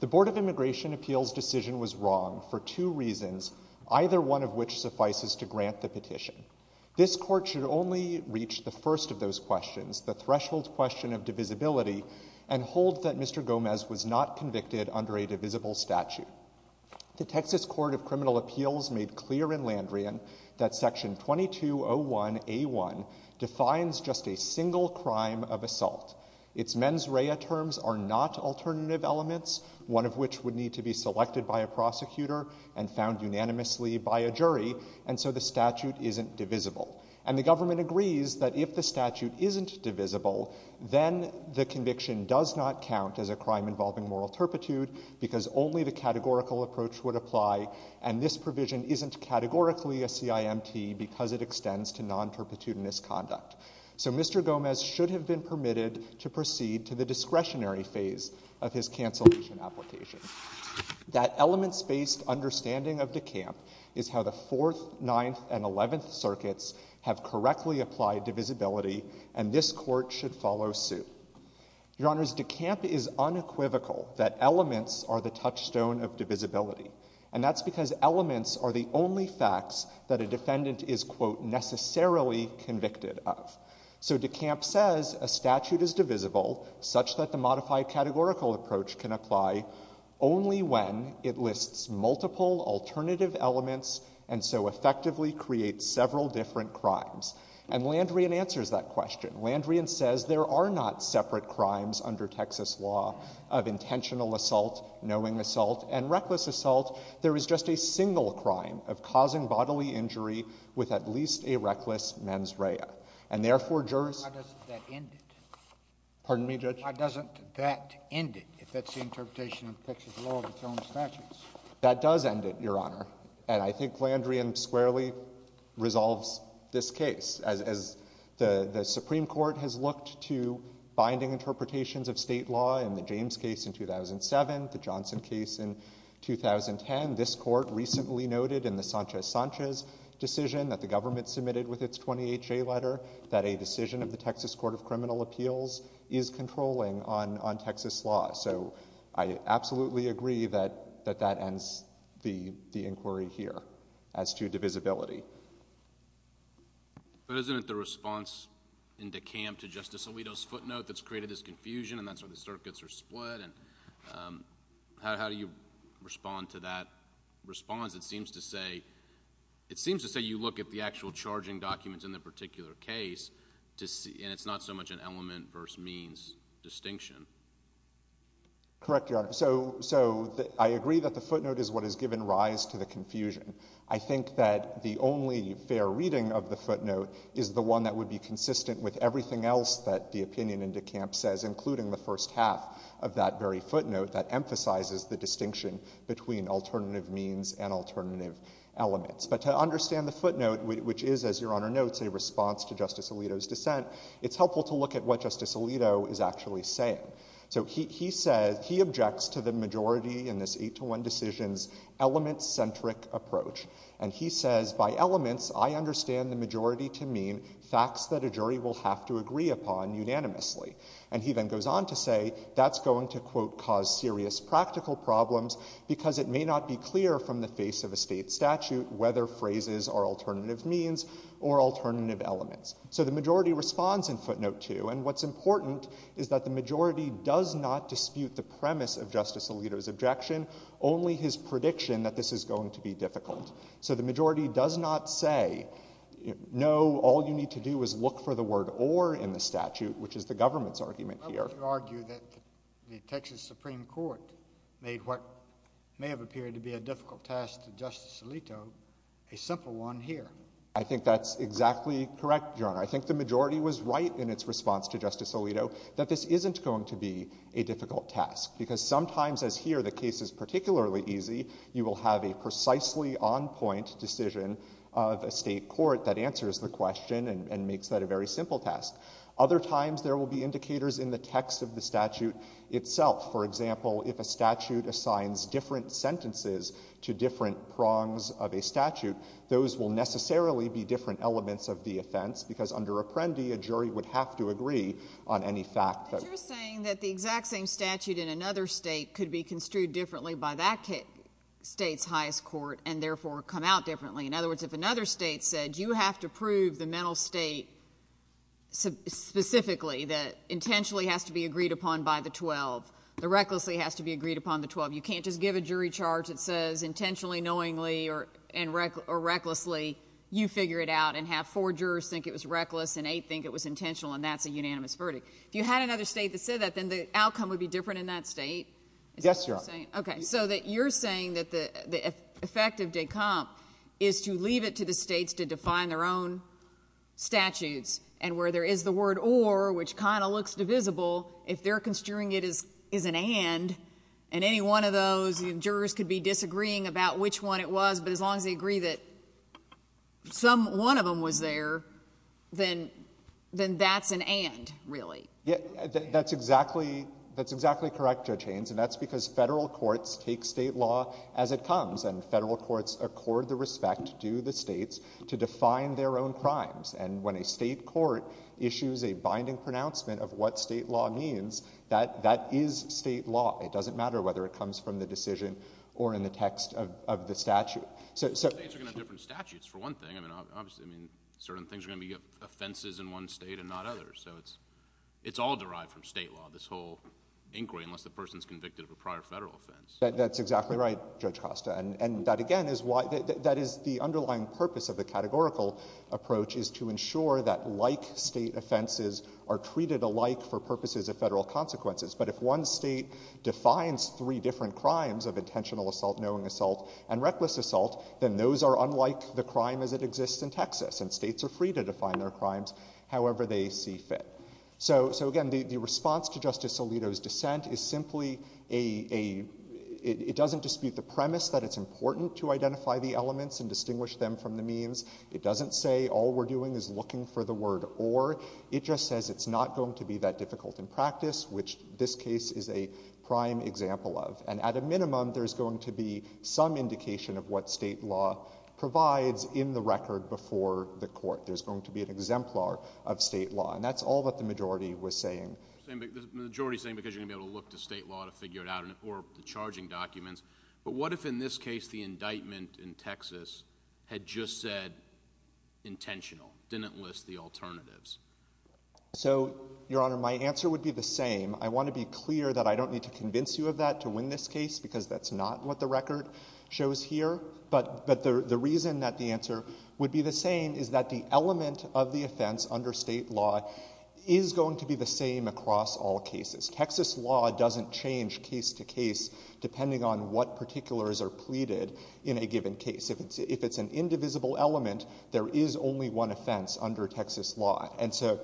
The Board of Immigration Appeals decision was wrong for two reasons. Either one of which suffices to grant the petition. This Court should only reach the first of those questions, the threshold question of divisibility, and hold that Mr. Gomez was not convicted under a divisible statute. The Texas Court of Criminal Appeals made clear in Landrian that Section 2201A1 defines just a single crime of assault. Its mens rea terms are not alternative elements, one of which would need to be selected by a prosecutor and found unanimously by a jury, and so the statute isn't divisible. And the government agrees that if the statute isn't divisible, then the conviction does not count as a crime involving moral turpitude, because only the categorical approach would apply, and this provision isn't categorically a CIMT because it extends to non-turpitudinous conduct. So Mr. Gomez should have been permitted to proceed to the discretionary phase of his cancellation application. That elements-based understanding of DeCamp is how the Fourth, Ninth, and Eleventh circuits have correctly applied divisibility, and this Court should follow suit. Your Honors, DeCamp is unequivocal that elements are the touchstone of divisibility, and that's because elements are the only facts that a defendant is, quote, necessarily convicted of. So DeCamp says a statute is divisible such that the modified categorical approach can apply only when it lists multiple alternative elements and so effectively creates several different crimes. And Landrian answers that question. Landrian says there are not separate crimes under Texas law of intentional assault, knowing assault, and reckless assault. There is just a single crime of causing bodily injury with at least a reckless mens rea. And therefore jurors- Why doesn't that end it? Pardon me, Judge? Why doesn't that end it, if that's the interpretation of Texas law of its own statutes? That does end it, Your Honor, and I think Landrian squarely resolves this case. As the Supreme Court has looked to binding interpretations of state law in the James case in 2007, the Johnson case in 2010, this Court recently noted in the Sanchez-Sanchez decision that the government submitted with its 20HA letter that a decision of the Texas Court of Criminal Appeals is controlling on Texas law. So I absolutely agree that that ends the inquiry here as to divisibility. But isn't it the response in DeCamp to Justice Alito's footnote that's created this confusion and that's why the circuits are split and how do you respond to that response? It seems to say you look at the actual charging documents in the particular case and it's not so much an element versus means distinction. Correct, Your Honor. So I agree that the footnote is what has given rise to the confusion. I think that the only fair reading of the footnote is the one that would be consistent with everything else that the opinion in DeCamp says, including the first half of that very footnote that emphasizes the distinction between alternative means and alternative elements. But to understand the footnote, which is, as Your Honor notes, a response to Justice Alito, it's helpful to look at what Justice Alito is actually saying. So he says, he objects to the majority in this 8-to-1 decisions element-centric approach. And he says, by elements, I understand the majority to mean facts that a jury will have to agree upon unanimously. And he then goes on to say that's going to, quote, cause serious practical problems because it may not be clear from the face of a state statute whether phrases are alternative means or alternative elements. So the majority responds in footnote 2. And what's important is that the majority does not dispute the premise of Justice Alito's objection, only his prediction that this is going to be difficult. So the majority does not say, no, all you need to do is look for the word or in the statute, which is the government's argument here. I would argue that the Texas Supreme Court made what may have appeared to be a difficult task to Justice Alito a simple one here. I think that's exactly correct, Your Honor. I think the majority was right in its response to Justice Alito that this isn't going to be a difficult task. Because sometimes, as here, the case is particularly easy. You will have a precisely on-point decision of a state court that answers the question and makes that a very simple task. Other times, there will be indicators in the text of the statute itself. For example, if a statute assigns different sentences to different prongs of a statute, those will necessarily be different elements of the offense, because under Apprendi, a jury would have to agree on any fact that— But you're saying that the exact same statute in another state could be construed differently by that state's highest court and therefore come out differently. In other words, if another state said, you have to prove the mental state specifically that intentionally has to be agreed upon by the 12, the recklessly has to be agreed upon the 12. You can't just give a jury charge that says intentionally, knowingly, or recklessly. You figure it out and have four jurors think it was reckless and eight think it was intentional, and that's a unanimous verdict. If you had another state that said that, then the outcome would be different in that state? Yes, Your Honor. Is that what you're saying? Okay. So that you're saying that the effect of DECOMP is to leave it to the states to define their own statutes. And where there is the word or, which kind of looks divisible, if they're construing it as an and, and any one of those, jurors could be disagreeing about which one it was, but as long as they agree that one of them was there, then that's an and, really. That's exactly correct, Judge Haynes, and that's because federal courts take state law as it comes, and federal courts accord the respect to the states to define their own crimes. And when a state court issues a binding pronouncement of what state law means, that, that is state law. It doesn't matter whether it comes from the decision or in the text of, of the statute. So, so. States are going to have different statutes, for one thing. I mean, obviously, I mean, certain things are going to be offenses in one state and not others. So it's, it's all derived from state law, this whole inquiry, unless the person's convicted of a prior federal offense. That's exactly right, Judge Costa, and, and that again is why, that, that is the underlying purpose of the categorical approach, is to ensure that like state offenses are treated alike for purposes of federal consequences. But if one state defines three different crimes of intentional assault, knowing assault, and reckless assault, then those are unlike the crime as it exists in Texas, and states are free to define their crimes however they see fit. So, so again, the, the response to Justice Alito's dissent is simply a, a, it, it doesn't dispute the premise that it's important to identify the elements and distinguish them from the means. It doesn't say all we're doing is looking for the word or. It just says it's not going to be that difficult in practice, which this case is a prime example of. And at a minimum, there's going to be some indication of what state law provides in the record before the court. There's going to be an exemplar of state law, and that's all that the majority was saying. The majority is saying because you're going to be able to look to state law to figure But what if in this case the indictment in Texas had just said intentional, didn't list the alternatives? So Your Honor, my answer would be the same. I want to be clear that I don't need to convince you of that to win this case because that's not what the record shows here. But, but the, the reason that the answer would be the same is that the element of the offense under state law is going to be the same across all cases. Texas law doesn't change case to case depending on what particulars are pleaded in a given case. If it's an indivisible element, there is only one offense under Texas law. And so,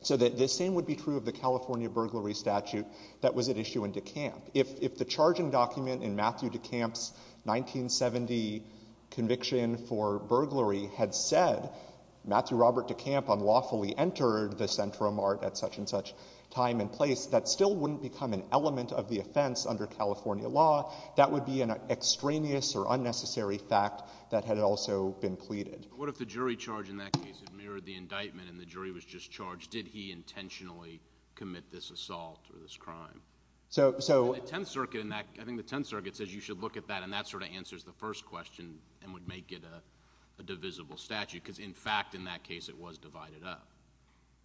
so the same would be true of the California burglary statute that was at issue in DeKalb. If the charging document in Matthew DeKalb's 1970 conviction for burglary had said Matthew Robert DeKalb unlawfully entered the Centro Mart at such and such time and place, that still wouldn't become an element of the offense under California law. That would be an extraneous or unnecessary fact that had also been pleaded. What if the jury charge in that case had mirrored the indictment and the jury was just charged? Did he intentionally commit this assault or this crime? So, so the 10th circuit in that, I think the 10th circuit says you should look at that and that sort of answers the first question and would make it a divisible statute because in fact, in that case it was divided up.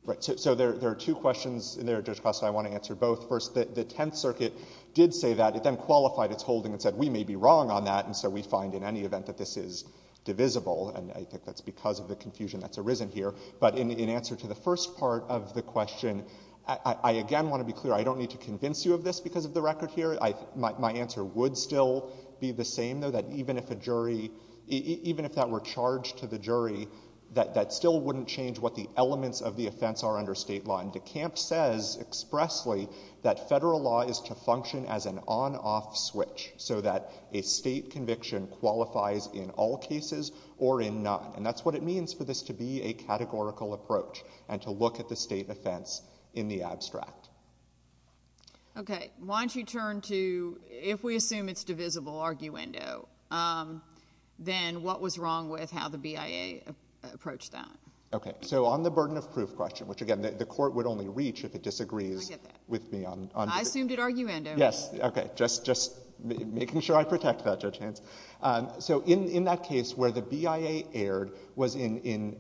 Right. So, so there, there are two questions in there, Judge Costa. I want to answer both. First, the 10th circuit did say that, it then qualified its holding and said, we may be wrong on that. And so we find in any event that this is divisible and I think that's because of the confusion that's arisen here. But in, in answer to the first part of the question, I, I again want to be clear, I don't need to convince you of this because of the record here. I, my, my answer would still be the same though, that even if a jury, even if that were charged to the jury, that, that still wouldn't change what the elements of the offense are under state law. And DeCamp says expressly that federal law is to function as an on-off switch so that a state conviction qualifies in all cases or in none. And that's what it means for this to be a categorical approach and to look at the state offense in the abstract. Okay. Why don't you turn to, if we assume it's divisible arguendo, then what was wrong with how the BIA approached that? Okay. So on the burden of proof question, which again, the court would only reach if it disagrees with me on, on. I assumed it arguendo. Yes. Okay. Just, just making sure I protect that, Judge Hance. So in, in that case where the BIA erred was in, in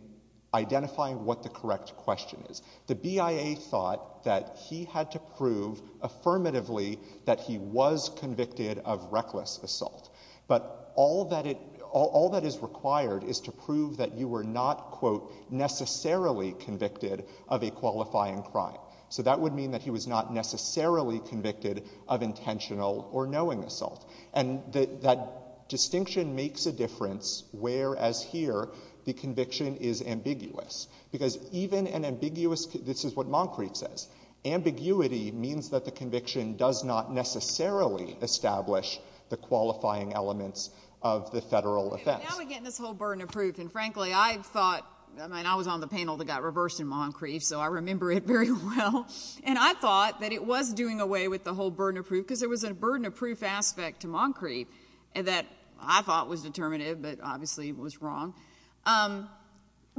identifying what the correct question is. The BIA thought that he had to prove affirmatively that he was convicted of reckless assault, but all that it, all that is required is to prove that you were not quote necessarily convicted of a qualifying crime. So that would mean that he was not necessarily convicted of intentional or knowing assault. And the, that distinction makes a difference, whereas here the conviction is ambiguous because even an ambiguous, this is what Moncrete says, ambiguity means that the conviction does not necessarily establish the qualifying elements of the federal offense. Now we're getting this whole burden of proof. And frankly, I thought, I mean, I was on the panel that got reversed in Moncrete, so I remember it very well. And I thought that it was doing away with the whole burden of proof because there was a burden of proof aspect to Moncrete and that I thought was determinative, but obviously was wrong.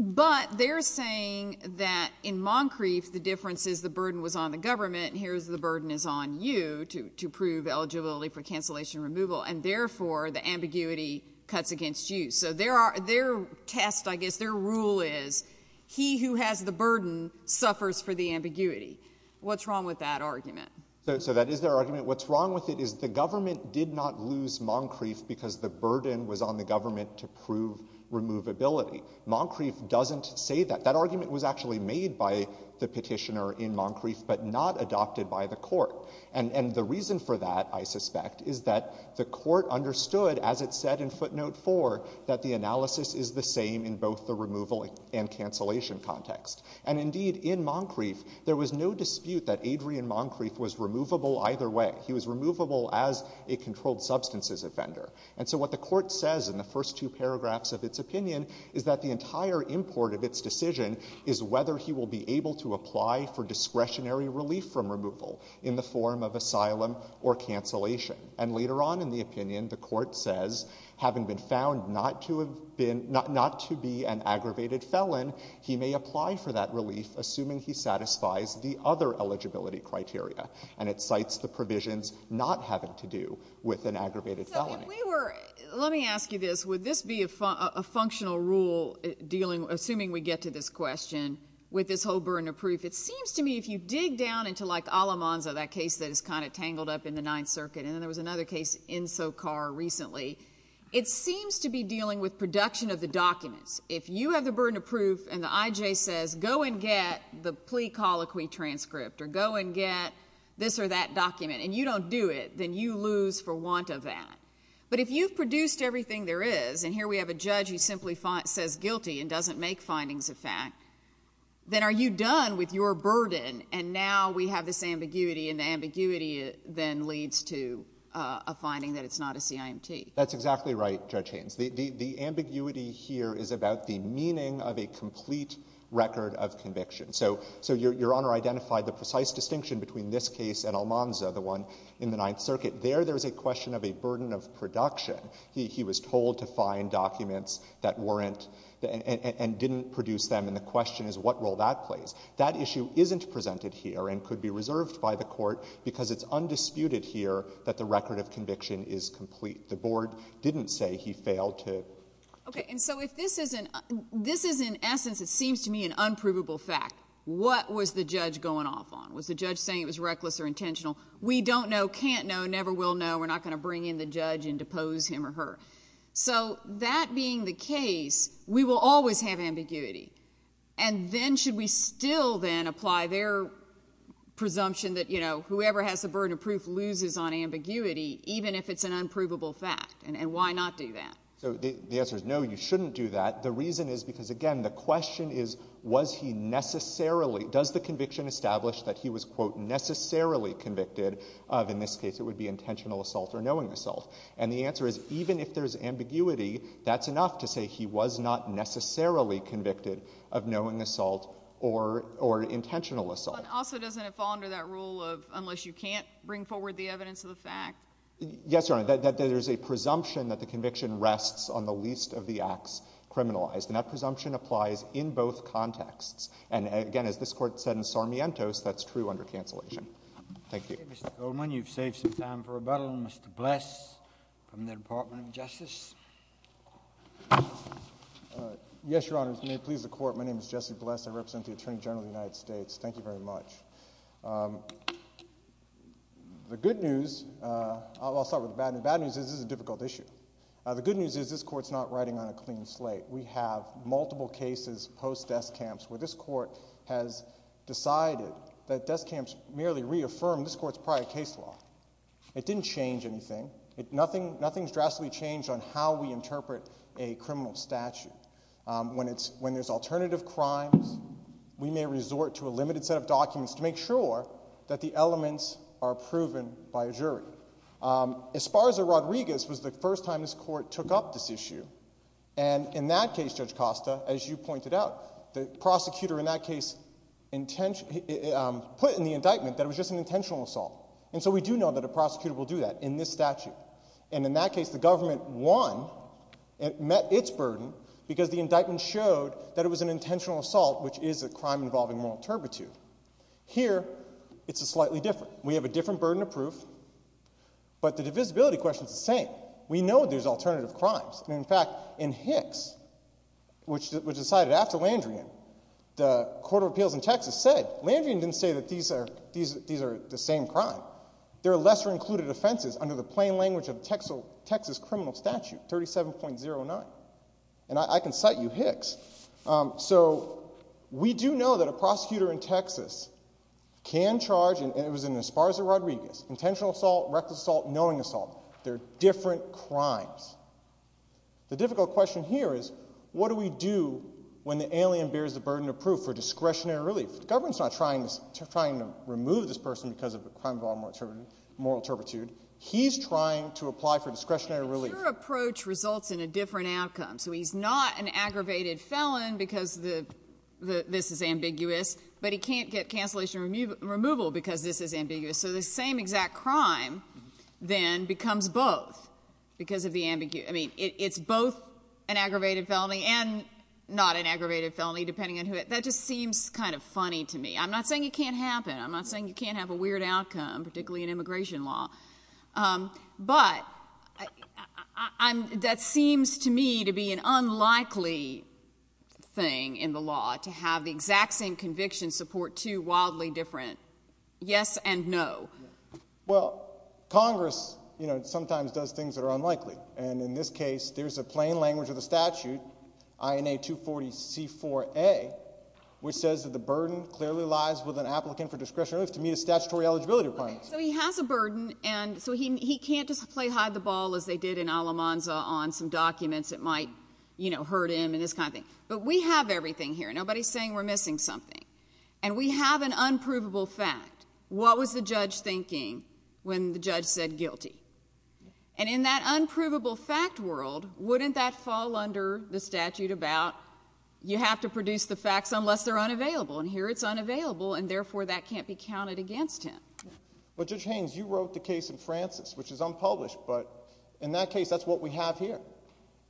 But they're saying that in Moncrete, the difference is the burden was on the government and here's the burden is on you to, to prove eligibility for cancellation removal and therefore the ambiguity cuts against you. So there are, their test, I guess their rule is he who has the burden suffers for the ambiguity. What's wrong with that argument? So that is their argument. What's wrong with it is the government did not lose Moncrete because the burden was on the government to prove removability. Moncrete doesn't say that. That argument was actually made by the petitioner in Moncrete, but not adopted by the court. And the reason for that, I suspect, is that the court understood, as it said in footnote four, that the analysis is the same in both the removal and cancellation context. And indeed in Moncrete, there was no dispute that Adrian Moncrete was removable either way. He was removable as a controlled substances offender. And so what the court says in the first two paragraphs of its opinion is that the entire import of its decision is whether he will be able to apply for discretionary relief from removal in the form of asylum or cancellation. And later on in the opinion, the court says, having been found not to have been, not to be an aggravated felon, he may apply for that relief assuming he satisfies the other eligibility criteria. And it cites the provisions not having to do with an aggravated felony. If we were, let me ask you this, would this be a functional rule dealing, assuming we get to this question, with this whole burden of proof? It seems to me, if you dig down into like Alamanza, that case that is kind of tangled up in the Ninth Circuit, and then there was another case, Enso Carr, recently, it seems to be dealing with production of the documents. If you have the burden of proof and the I.J. says, go and get the plea colloquy transcript or go and get this or that document, and you don't do it, then you lose for want of that. But if you've produced everything there is, and here we have a judge who simply says guilty and doesn't make findings of fact, then are you done with your burden? And now we have this ambiguity, and the ambiguity then leads to a finding that it's not a CIMT. That's exactly right, Judge Haynes. The ambiguity here is about the meaning of a complete record of conviction. So Your Honor identified the precise distinction between this case and Almanza, the one in the Ninth Circuit. There, there's a question of a burden of production. He was told to find documents that weren't, and didn't produce them, and the question is what role that plays. That issue isn't presented here and could be reserved by the Court, because it's undisputed here that the record of conviction is complete. The Board didn't say he failed to. Okay, and so if this isn't, this is in essence, it seems to me, an unprovable fact. What was the judge going off on? Was the judge saying it was reckless or intentional? We don't know, can't know, never will know, we're not going to bring in the judge and depose him or her. So that being the case, we will always have ambiguity, and then should we still then apply their presumption that, you know, whoever has the burden of proof loses on ambiguity, even if it's an unprovable fact, and why not do that? So the answer is no, you shouldn't do that. The reason is because, again, the question is, was he necessarily, does the conviction establish that he was, quote, necessarily convicted of, in this case it would be intentional assault or knowing assault? And the answer is, even if there's ambiguity, that's enough to say he was not necessarily convicted of knowing assault or intentional assault. But also doesn't it fall under that rule of, unless you can't bring forward the evidence of the fact? Yes, Your Honor, there's a presumption that the conviction rests on the least of the acts criminalized. And that presumption applies in both contexts. And again, as this Court said in Sarmiento's, that's true under cancellation. Thank you. Mr. Goldman, you've saved some time for rebuttal. Mr. Bless from the Department of Justice. Yes, Your Honors. May it please the Court. My name is Jesse Bless. I represent the Attorney General of the United States. Thank you very much. The good news, I'll start with the bad news, the bad news is this is a difficult issue. The good news is this Court's not riding on a clean slate. We have multiple cases post-death camps where this Court has decided that death camps merely reaffirm this Court's prior case law. It didn't change anything. Nothing's drastically changed on how we interpret a criminal statute. When there's alternative crimes, we may resort to a limited set of documents to make sure that the elements are proven by a jury. Esparza Rodriguez was the first time this Court took up this issue. And in that case, Judge Costa, as you pointed out, the prosecutor in that case put in the indictment that it was just an intentional assault. And so we do know that a prosecutor will do that in this statute. And in that case, the government won, it met its burden, because the indictment showed that it was an intentional assault, which is a crime involving moral turpitude. Here it's slightly different. We have a different burden of proof, but the divisibility question's the same. We know there's alternative crimes, and in fact, in Hicks, which was decided after Landrian, the Court of Appeals in Texas said, Landrian didn't say that these are the same crime. They're lesser included offenses under the plain language of Texas criminal statute 37.09. And I can cite you Hicks. So we do know that a prosecutor in Texas can charge, and it was in Esparza Rodriguez, intentional assault, reckless assault, knowing assault. They're different crimes. The difficult question here is, what do we do when the alien bears the burden of proof for discretionary relief? The government's not trying to remove this person because of a crime involving moral turpitude. He's trying to apply for discretionary relief. Your approach results in a different outcome. So he's not an aggravated felon because this is ambiguous, but he can't get cancellation removal because this is ambiguous. So the same exact crime then becomes both because of the ambiguity. I mean, it's both an aggravated felony and not an aggravated felony, depending on who it is. That just seems kind of funny to me. I'm not saying it can't happen. I'm not saying you can't have a weird outcome, particularly in immigration law. But that seems to me to be an unlikely thing in the law, to have the exact same conviction support two wildly different yes and no. Well, Congress sometimes does things that are unlikely. And in this case, there's a plain language of the statute, INA 240C4A, which says that the burden clearly lies with an applicant for discretionary relief to meet a statutory eligibility requirement. So he has a burden, and so he can't just play hide the ball as they did in Alamanza on some documents that might, you know, hurt him and this kind of thing. But we have everything here. Nobody's saying we're missing something. And we have an unprovable fact. What was the judge thinking when the judge said guilty? And in that unprovable fact world, wouldn't that fall under the statute about you have to produce the facts unless they're unavailable? And here it's unavailable, and therefore that can't be counted against him. But Judge Haynes, you wrote the case in Francis, which is unpublished. But in that case, that's what we have here.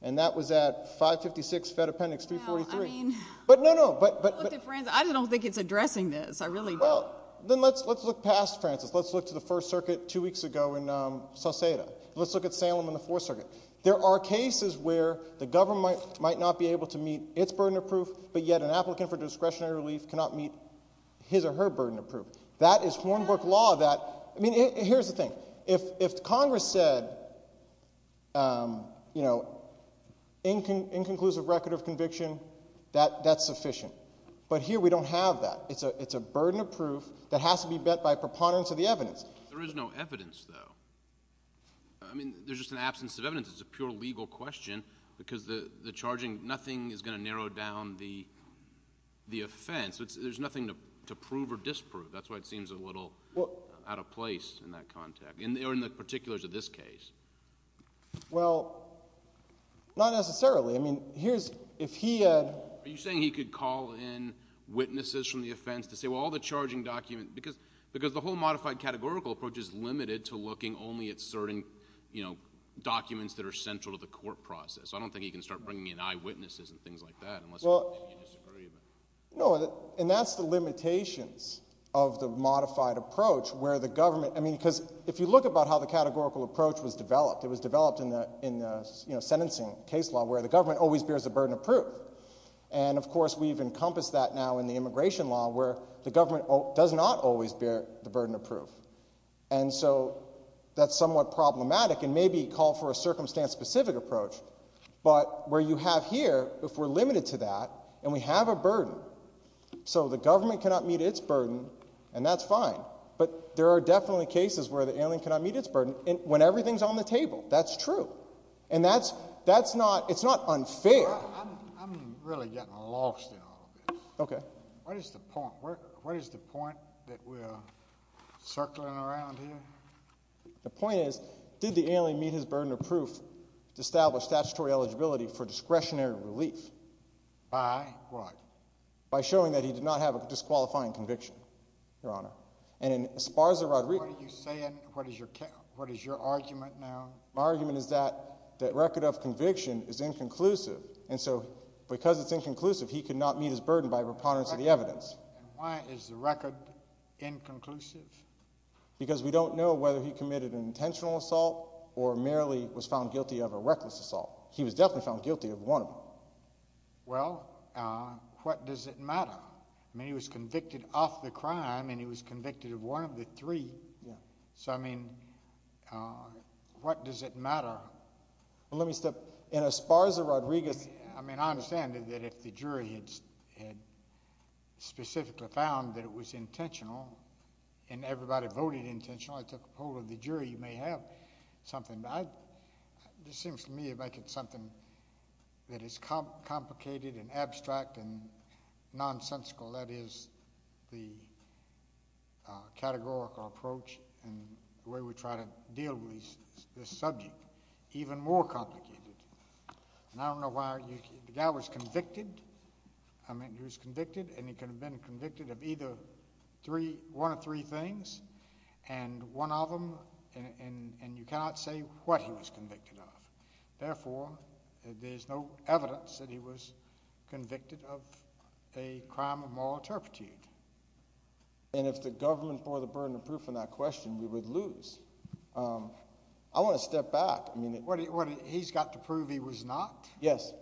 And that was at 556 Fed Appendix 343. But no, no. I don't think it's addressing this. I really don't. Well, then let's look past Francis. Let's look to the First Circuit two weeks ago in Sauceda. Let's look at Salem in the Fourth Circuit. There are cases where the government might not be able to meet its burden of proof, but yet an applicant for discretionary relief cannot meet his or her burden of proof. That is Hornbrook law that, I mean, here's the thing. If Congress said, you know, inconclusive record of conviction, that's sufficient. But here we don't have that. It's a burden of proof that has to be met by preponderance of the evidence. There is no evidence, though. I mean, there's just an absence of evidence. It's a pure legal question, because the charging, nothing is going to narrow down the offense. There's nothing to prove or disprove. That's why it seems a little out of place in that context, or in the particulars of this case. Well, not necessarily. I mean, here's, if he had... Are you saying he could call in witnesses from the offense to say, well, all the charging documents... because the whole modified categorical approach is limited to looking only at certain, you know, documents that are central to the court process. I don't think he can start bringing in eyewitnesses and things like that unless... Well, no, and that's the limitations of the modified approach where the government... I mean, because if you look about how the categorical approach was developed, it was developed in a, you know, sentencing case law where the government always bears the burden of proof. And of course, we've encompassed that now in the immigration law where the government does not always bear the burden of proof. And so, that's somewhat problematic, and maybe call for a circumstance-specific approach. But where you have here, if we're limited to that, and we have a burden, so the government cannot meet its burden, and that's fine. But there are definitely cases where the alien cannot meet its burden when everything's on the table. That's true. And that's... that's not... it's not unfair. I'm... I'm really getting lost in all this. Okay. What is the point? What is the point that we're circling around here? The point is, did the alien meet his burden of proof to establish statutory eligibility for discretionary relief? By what? By showing that he did not have a disqualifying conviction, Your Honor. And in Esparza-Rodriguez... What are you saying? What is your... what is your argument now? My argument is that... that record of conviction is inconclusive. And so, because it's inconclusive, he could not meet his burden by a preponderance of the evidence. And why is the record inconclusive? Because we don't know whether he committed an intentional assault, or merely was found guilty of a reckless assault. He was definitely found guilty of one of them. Well, what does it matter? I mean, he was convicted of the crime, and he was convicted of one of the three. Yeah. So, I mean, what does it matter? Well, let me step... in Esparza-Rodriguez... I mean, I understand that if the jury had specifically found that it was intentional, and everybody voted intentional, I took a poll of the jury, you may have something. But I... this seems to me to make it something that is complicated, and abstract, and nonsensical. Well, that is the categorical approach, and the way we try to deal with this subject. Even more complicated. And I don't know why... the guy was convicted. I mean, he was convicted, and he could have been convicted of either three... one of three things, and one of them... and you cannot say what he was convicted of. Therefore, there's no evidence that he was convicted of a crime of moral turpitude. And if the government bore the burden of proof in that question, we would lose. I want to step back. I mean... What, he's got to prove he was not? Yes.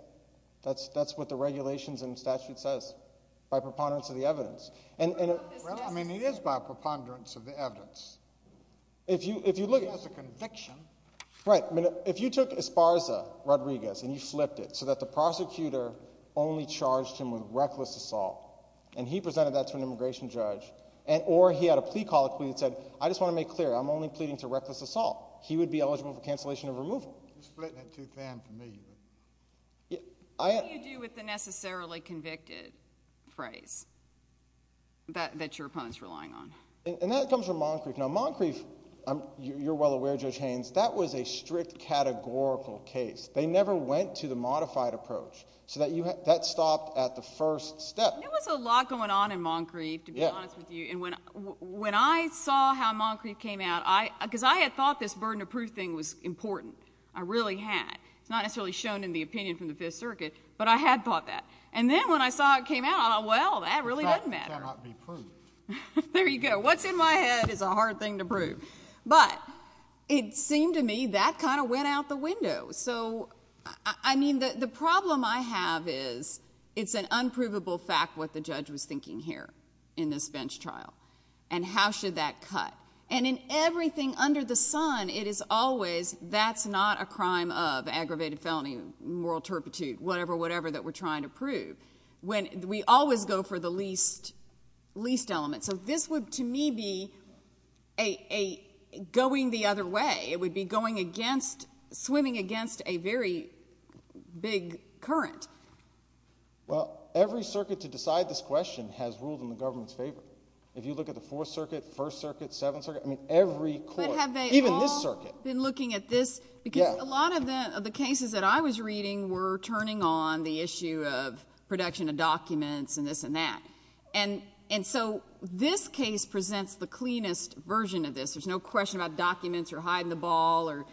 That's what the regulations and statute says, by preponderance of the evidence. And... Well, I mean, it is by preponderance of the evidence. If you look... He has a conviction. Right. I mean, if you took Esparza Rodriguez, and you flipped it, so that the prosecutor only charged him with reckless assault, and he presented that to an immigration judge, or he had a plea call, and he said, I just want to make clear, I'm only pleading to reckless assault, he would be eligible for cancellation of removal. You're splitting it too thin for me. What do you do with the necessarily convicted phrase that your opponent's relying on? And that comes from Moncrief. Now, Moncrief, you're well aware, Judge Haynes, that was a strict categorical case. They never went to the modified approach. So, that stopped at the first step. There was a lot going on in Moncrief, to be honest with you. And when I saw how Moncrief came out, because I had thought this burden of proof thing was important. I really had. It's not necessarily shown in the opinion from the Fifth Circuit, but I had thought that. And then, when I saw it came out, I thought, well, that really doesn't matter. It cannot be proved. There you go. What's in my head is a hard thing to prove. But, it seemed to me, that kind of went out the window. So, I mean, the problem I have is, it's an unprovable fact what the judge was thinking here in this bench trial. And how should that cut? And in everything under the sun, it is always, that's not a crime of aggravated felony, moral turpitude, whatever, whatever that we're trying to prove. We always go for the least element. So, this would, to me, be a going the other way. It would be going against, swimming against a very big current. Well, every circuit to decide this question has ruled in the government's favor. If you look at the Fourth Circuit, First Circuit, Seventh Circuit, I mean, every court, even this circuit. But have they all been looking at this? Because a lot of the cases that I was reading were turning on the issue of production of documents and this and that. And so, this case presents the cleanest version of this. There's no question about documents or hiding the ball or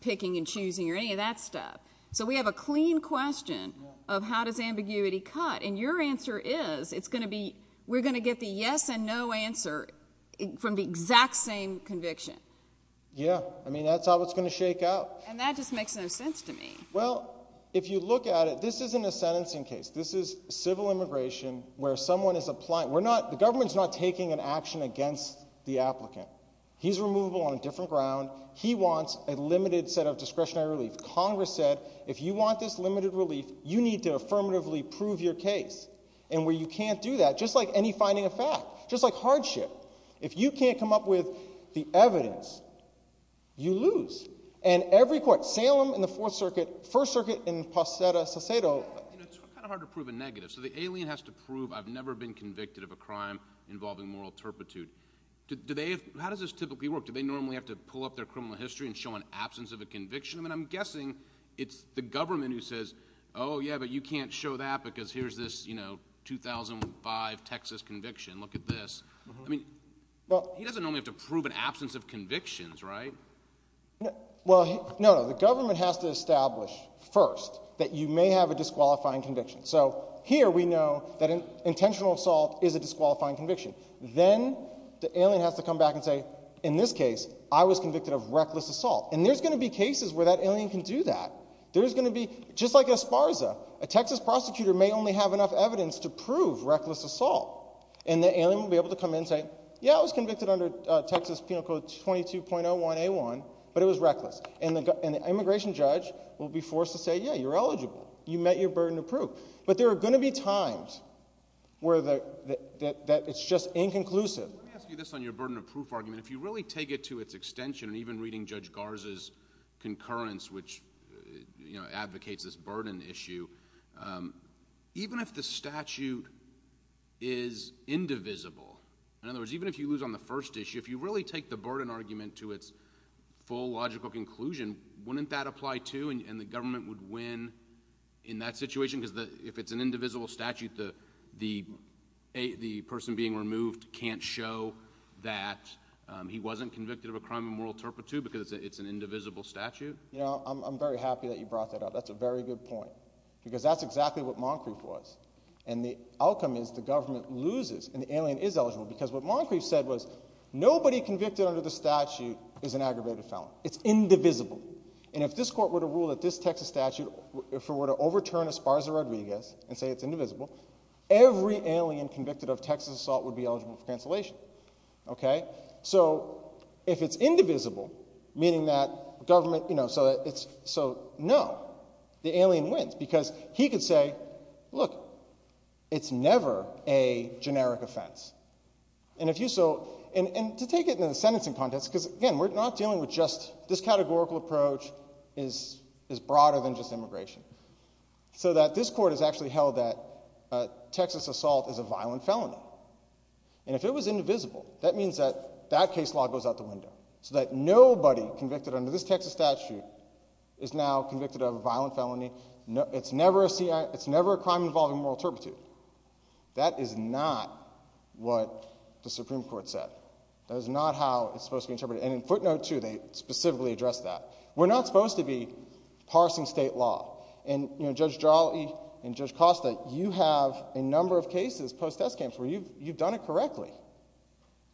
picking and choosing or any of that stuff. So, we have a clean question of how does ambiguity cut? And your answer is, it's going to be, we're going to get the yes and no answer from the exact same conviction. Yeah. I mean, that's how it's going to shake out. And that just makes no sense to me. Well, if you look at it, this isn't a sentencing case. This is civil immigration where someone is applying, we're not, the government's not taking an action against the applicant. He's removable on a different ground. He wants a limited set of discretionary relief. Congress said, if you want this limited relief, you need to affirmatively prove your case. And where you can't do that, just like any finding of fact, just like hardship. If you can't come up with the evidence, you lose. And every court, Salem in the Fourth Circuit, First Circuit in Posada, Sesedo. You know, it's kind of hard to prove a negative. So, the alien has to prove, I've never been convicted of a crime involving moral turpitude. Do they, how does this typically work? Do they normally have to pull up their criminal history and show an absence of a conviction? I mean, I'm guessing it's the government who says, oh yeah, but you can't show that because here's this, you know, 2005 Texas conviction, look at this. I mean, he doesn't normally have to prove an absence of convictions, right? Well, no, the government has to establish first that you may have a disqualifying conviction. So, here we know that an intentional assault is a disqualifying conviction. Then, the alien has to come back and say, in this case, I was convicted of reckless assault. And there's going to be cases where that alien can do that. There's going to be, just like Esparza, a Texas prosecutor may only have enough evidence to prove reckless assault. And the alien will be able to come in and say, yeah, I was convicted under Texas Penal Code 22.01A1, but it was reckless. And the immigration judge will be forced to say, yeah, you're eligible. You met your burden of proof. But there are going to be times where it's just inconclusive. Let me ask you this on your burden of proof argument. If you really take it to its extension, and even reading Judge Garza's concurrence, which advocates this burden issue, even if the statute is indivisible, in other words, even if you lose on the first issue, if you really take the burden argument to its full logical conclusion, wouldn't that apply too? And the government would win in that situation? Because if it's an indivisible statute, the person being removed can't show that he wasn't convicted of a crime of moral turpitude because it's an indivisible statute? You know, I'm very happy that you brought that up. That's a very good point. Because that's exactly what Moncrief was. And the outcome is the government loses, and the alien is eligible, because what Moncrief said was nobody convicted under the statute is an aggravated felon. It's indivisible. And if this court were to rule that this Texas statute, if it were to overturn Esparza-Rodriguez and say it's indivisible, every alien convicted of Texas assault would be eligible for cancellation. Okay? So if it's indivisible, meaning that government... So, no. The alien wins. Because he could say, look, it's never a generic offense. And if you so... And to take it in a sentencing context, because again, we're not dealing with just... This categorical approach is broader than just immigration. So that this court has actually held that Texas assault is a violent felony. And if it was indivisible, that means that that case law goes out the window. So that nobody convicted under this Texas statute is now convicted of a violent felony. It's never a crime involving moral turpitude. That is not what the Supreme Court said. That is not how it's supposed to be interpreted. And in footnote 2, they specifically address that. We're not supposed to be parsing state law. And, you know, Judge Jolly and Judge Costa, you have a number of cases, post-test camps, where you've done it correctly.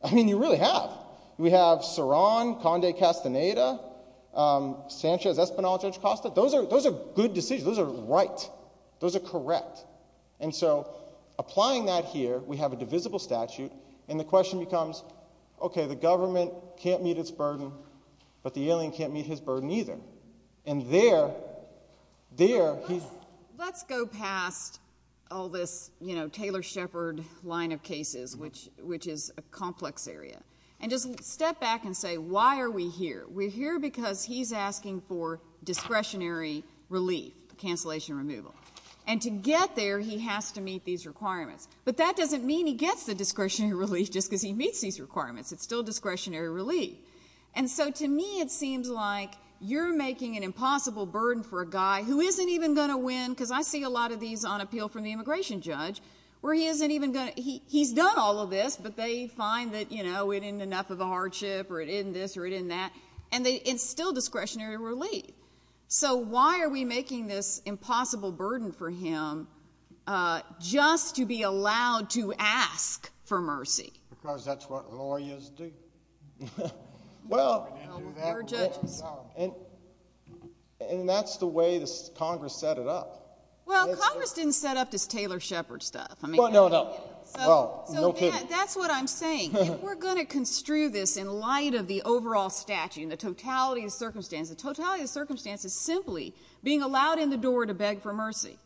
I mean, you really have. We have Soran, Conde Castaneda, Sanchez, Espinosa, Judge Costa. Those are good decisions. Those are right. Those are correct. And so, applying that here, we have a divisible statute, and the question becomes, okay, the government can't meet its burden, but the alien can't meet his burden either. And there... Let's go past all this, you know, Taylor Shepard line of cases, which is a complex area, and just step back and say, why are we here? We're here because he's asking for discretionary relief, cancellation removal. And to get there, he has to meet these requirements. But that doesn't mean he gets the discretionary relief just because he meets these requirements. It's still discretionary relief. And so, to me, it seems like you're making an impossible burden for a guy who isn't even going to win, because I see a lot of these on appeal from the immigration judge, where he's done all of this, but they find that, you know, it isn't enough of a hardship, or it isn't this, or it isn't that, and it's still discretionary relief. So why are we making this impossible burden for him just to be allowed to ask for mercy? Because that's what lawyers do. Well... And that's the way Congress set it up. Well, Congress didn't set up this Taylor Shepard stuff. Well, no kidding. That's what I'm saying. If we're going to construe this in light of the overall statute and the totality of circumstances, simply being allowed in the door to beg for mercy,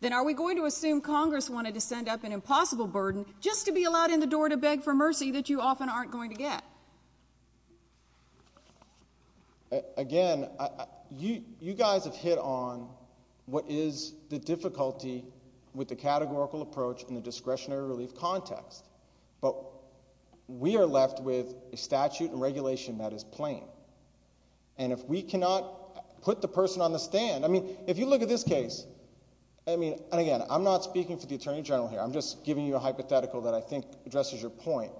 then are we going to assume Congress wanted to send up an impossible burden just to be allowed in the door to beg for mercy that you often aren't going to get? Again, you guys have hit on what is the difficulty with the categorical approach in the discretionary relief context, but we are left with a statute and regulation that is plain. And if we cannot put the person on the stand, I mean, if you look at this case, I mean, and again, I'm not speaking for the Attorney General here, I'm just giving you a hypothetical that I think addresses your point.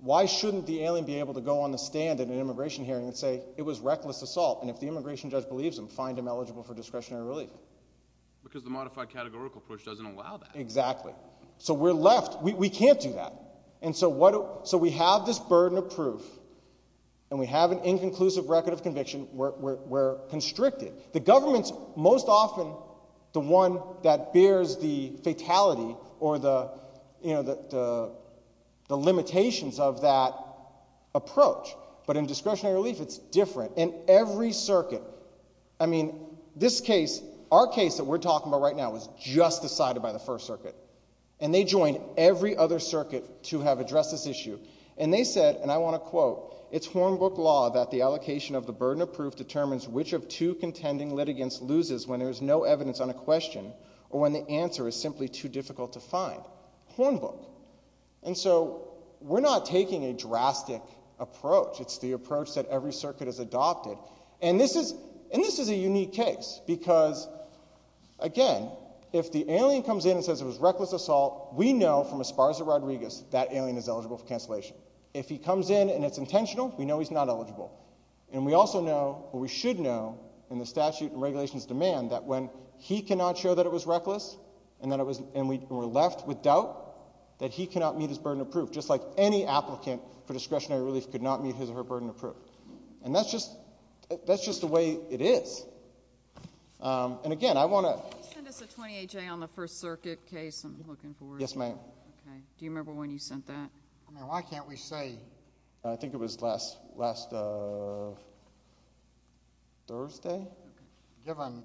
Why shouldn't the alien be able to go on the stand at an immigration hearing and say, it was reckless assault, and if the immigration judge believes him, find him eligible for discretionary relief? Because the modified categorical approach doesn't allow that. Exactly. So we're left. We can't do that. So we have this burden of proof, and we have an inconclusive record of conviction. We're constricted. The government's most often the one that bears the fatality or the you know, the limitations of that approach. But in discretionary relief, it's different. And every circuit, I mean, this case, our case that we're talking about right now was just decided by the First Circuit. And they joined every other circuit to have addressed this issue. And they said, and I want to quote, it's Hornbook law that the allocation of the burden of proof determines which of two contending litigants loses when there's no evidence on a question or when the answer is simply too difficult to find. Hornbook. And so we're not taking a drastic approach. It's the approach that every circuit has adopted. And this is a unique case because, again, if the alien comes in and says it was reckless assault, we know from Esparza Rodriguez that alien is eligible for cancellation. If he comes in and it's intentional, we know he's not eligible. And we also know, or we should know, in the statute and regulations demand, that when he cannot show that it was reckless and we're left with doubt, that he cannot meet his burden of proof. Just like any applicant for discretionary relief could not meet his or her burden of proof. And that's just the way it is. And again, I want to... Can you send us a 28-J on the First Circuit case I'm looking for? Yes, ma'am. Do you remember when you sent that? Why can't we say... I think it was last Thursday? Given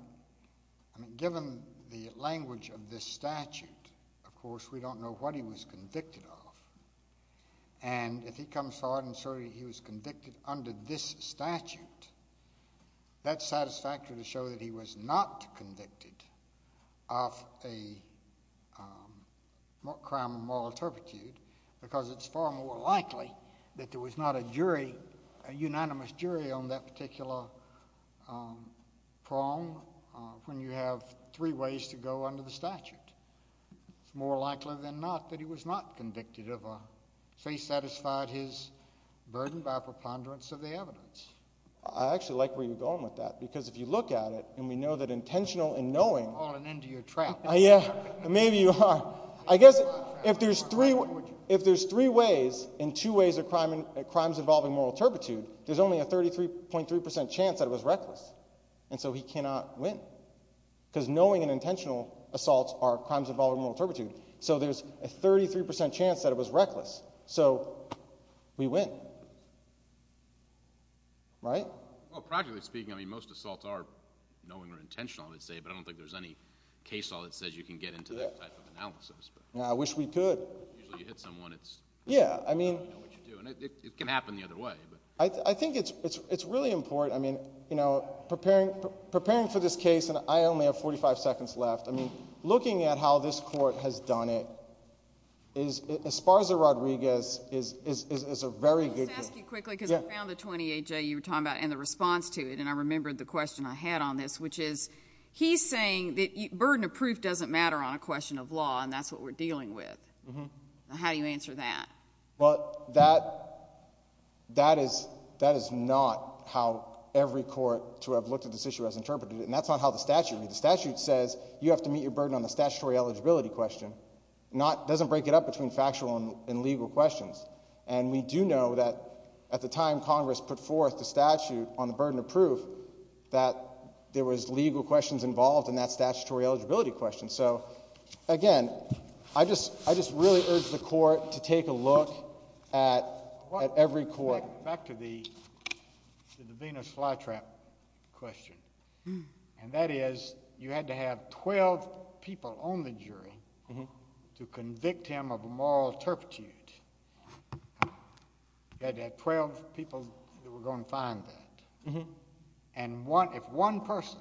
the language of this statute, of course, we don't know what he was convicted of. And if he comes forward and says he was convicted under this statute, that's satisfactory to show that he was not convicted of a crime of moral turpitude, because it's far more likely that there was not a jury, a unanimous jury on that particular prong when you have three ways to go under the statute. It's more likely than not that he was not convicted of a case that satisfied his burden by preponderance of the evidence. I actually like where you're going with that, because if you look at it and we know that intentional in knowing... I'm falling into your trap. Yeah, maybe you are. I guess if there's three ways and two ways of crimes involving moral turpitude, there's only a 33.3% chance that it was reckless, and so he cannot win, because knowing and intentional assaults are crimes involving moral turpitude, so there's a 33% chance that it was reckless. So, we win. Right? Well, practically speaking, I mean, most assaults are knowing or intentional, but I don't think there's any case law that says you can get into that type of analysis. Yeah, I wish we could. Yeah, I mean... It can happen the other way. I think it's really important, you know, preparing for this case, and I only have 45 seconds left, I mean, looking at how this court has done it, as far as the Rodriguez is a very good case. Can I just ask you quickly, because I found the 28J you were talking about and the response to it, and I remembered the question I had on this, which is he's saying that burden of proof doesn't matter on a question of law, and that's what we're dealing with. How do you answer that? Well, that is not how every court to have looked at this issue has interpreted it, and that's not how the statute reads. The statute says you have to meet your burden on the statutory eligibility question. It doesn't break it up between factual and legal questions. And we do know that at the time Congress put forth the statute, that there was legal questions involved in that statutory eligibility question. So, again, I just really urge the court to take a look at every court. Back to the Venus flytrap question. And that is, you had to have 12 people on the jury to convict him of a moral turpitude. You had to have 12 people that were going to find that. And if one person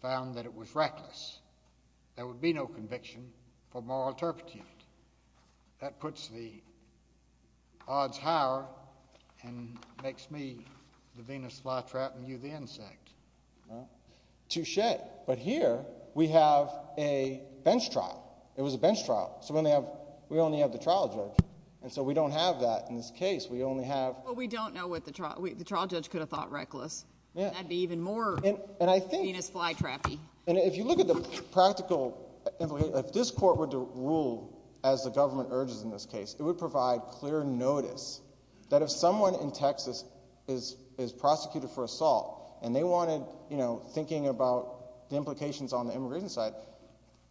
found that it was reckless, there would be no conviction for moral turpitude. That puts the odds higher and makes me the Venus flytrap and you the insect. Touche. But here, we have a bench trial. It was a bench trial. So we only have the trial judge. And so we don't have that in this case. The trial judge could have thought reckless. That would be even more Venus flytrap-y. If you look at the practical if this court were to rule as the government urges in this case, it would provide clear notice that if someone in Texas is prosecuted for assault and they wanted, you know, thinking about the implications on the immigration side,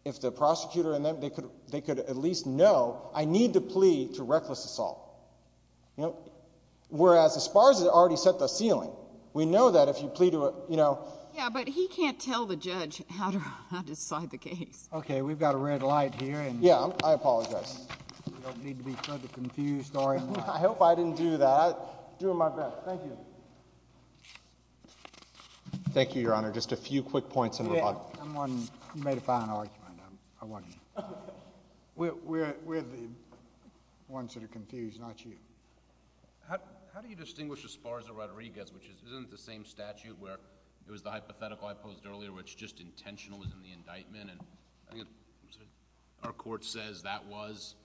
if the prosecutor could at least know, I need to plead to reckless assault. Whereas as far as it already set the ceiling, we know that if you plead to a, you know... Yeah, but he can't tell the judge how to decide the case. Okay, we've got a red light here. Yeah, I apologize. I hope I didn't do that. I'm doing my best. Thank you. Thank you, Your Honor. Just a few quick points in rebuttal. You made a fine argument. We're the ones that are confused, not you. How do you distinguish Esparza-Rodriguez which isn't the same statute where it was the hypothetical I posed earlier which just intentional is in the indictment and our court says that was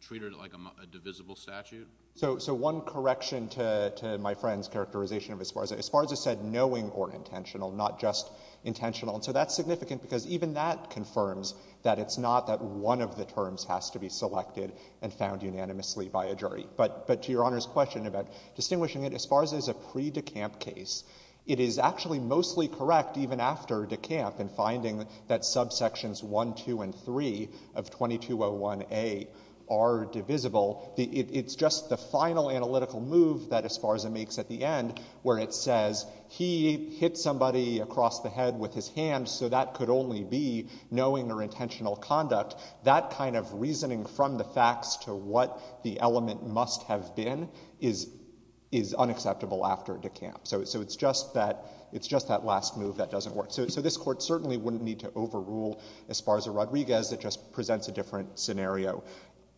treated like a divisible statute? So one correction to my friend's characterization of Esparza. Esparza said knowing or intentional, not just intentional. So that's significant because even that confirms that it's not that one of the terms has to be selected and found unanimously by a jury. But to Your Honor's question about distinguishing it, Esparza is a pre-DeKamp case. It is actually mostly correct even after DeKamp in finding that subsections 1, 2, and 3 of 2201a are divisible. It's just the final analytical move that Esparza makes at the end where it says he hit somebody across the head with his hand so that could only be knowing or intentional conduct. That kind of reasoning from the facts to what the element must have been is unacceptable after DeKamp. So it's just that last move that doesn't work. So this court certainly wouldn't need to overrule Esparza-Rodriguez. It just presents a different scenario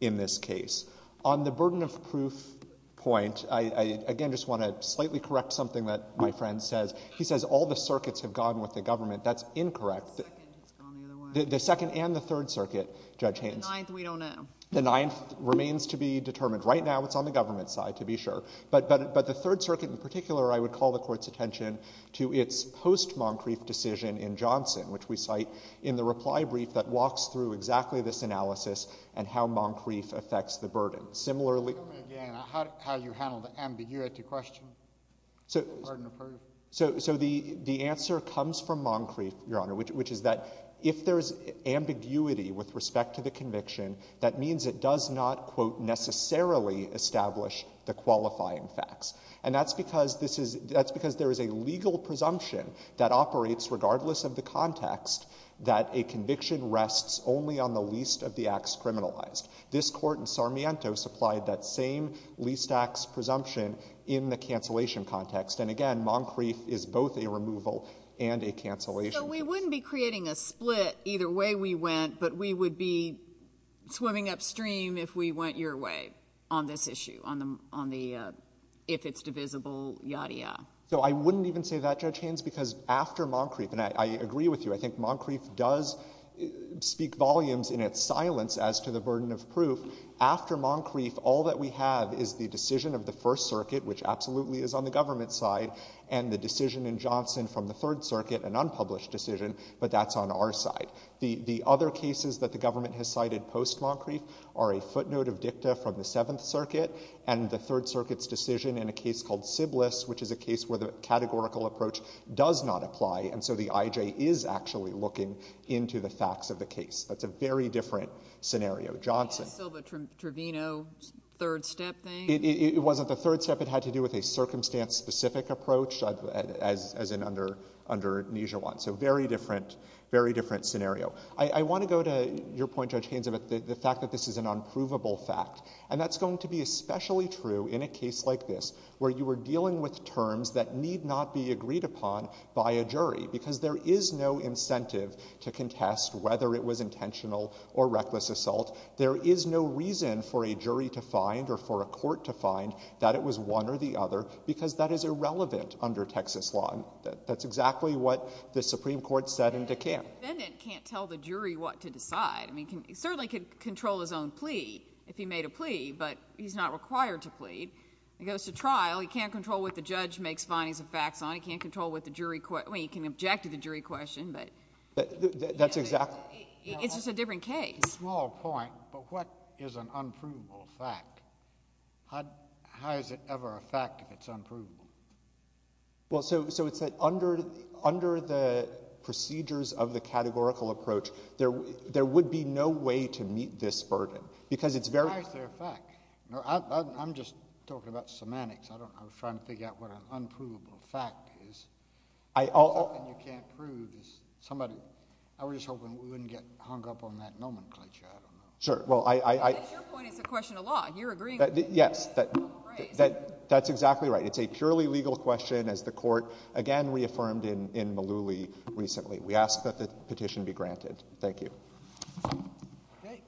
in this case. On the burden of proof point I again just want to slightly correct something that my friend says. He says all the circuits have gone with the government. That's incorrect. The second and the third circuit, Judge Haynes. The ninth we don't know. The ninth remains to be determined. Right now it's on the government side to be sure. But the third circuit in particular I would call the court's attention to its post- Moncrief decision in Johnson which we cite in the reply brief that walks through exactly this analysis and how Moncrief affects the burden. Similarly... Is that how you handle the ambiguity question? So the answer comes from Moncrief, Your Honor, which is that if there is ambiguity with respect to the conviction, that means it does not, quote, necessarily establish the qualifying facts. And that's because this is that's because there is a legal presumption that operates regardless of the context that a conviction rests only on the least of the acts criminalized. This court in Sarmiento supplied that same least acts presumption in the cancellation context. And again, Moncrief is both a removal and a cancellation. So we wouldn't be creating a split either way we went, but we would be swimming upstream if we went your way on this issue on the, if it's divisible, yada yada. So I wouldn't even say that, Judge Haynes, because after Moncrief, and I agree with you, I think Moncrief does speak volumes in its silence as to the fact that, you know, in the case of Moncrief, all that we have is the decision of the First Circuit, which absolutely is on the government's side, and the decision in Johnson from the Third Circuit, an unpublished decision, but that's on our side. The other cases that the government has cited post Moncrief are a footnote of dicta from the Seventh Circuit, and the Third Circuit's decision in a case called Sybilis, which is a case where the categorical approach does not apply, and so the I.J. is actually looking into the facts of the case. That's a very different scenario. Johnson. The Silva-Trevino third step thing? It wasn't the third step. It had to do with a circumstance-specific approach, as in under Nijewan. So very different, very different scenario. I want to go to your point, Judge Haynes, about the fact that this is an unprovable fact, and that's going to be especially true in a case like this, where you are dealing with terms that need not be agreed upon by a jury, because there is no incentive to contest whether it was intentional or reckless assault. There is no reason for a jury to find or for a court to find that it was one or the other, because that is irrelevant under Texas law, and that's exactly what the Supreme Court said in DeKalb. The defendant can't tell the jury what to decide. I mean, he certainly could control his own plea, if he made a plea, but he's not required to plead. He goes to trial. He can't control what the judge makes findings of facts on. He certainly can't control what the jury— well, he can object to the jury question, but— That's exactly— It's just a different case. A small point, but what is an unprovable fact? How is it ever a fact if it's unprovable? Well, so it's that under the procedures of the categorical approach, there would be no way to meet this burden, because it's very— How is there a fact? I'm just talking about semantics. I don't know. I'm trying to figure out what an unprovable fact is. Something you can't prove is— I was just hoping we wouldn't get hung up on that nomenclature. I don't know. Sure. Well, I— Your point is a question of law, and you're agreeing with me. Yes. That's exactly right. It's a purely legal question, as the Court again reaffirmed in Malooly recently. We ask that the petition be granted. Thank you. Okay.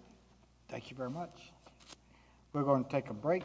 Thank you very much. We're going to take a break.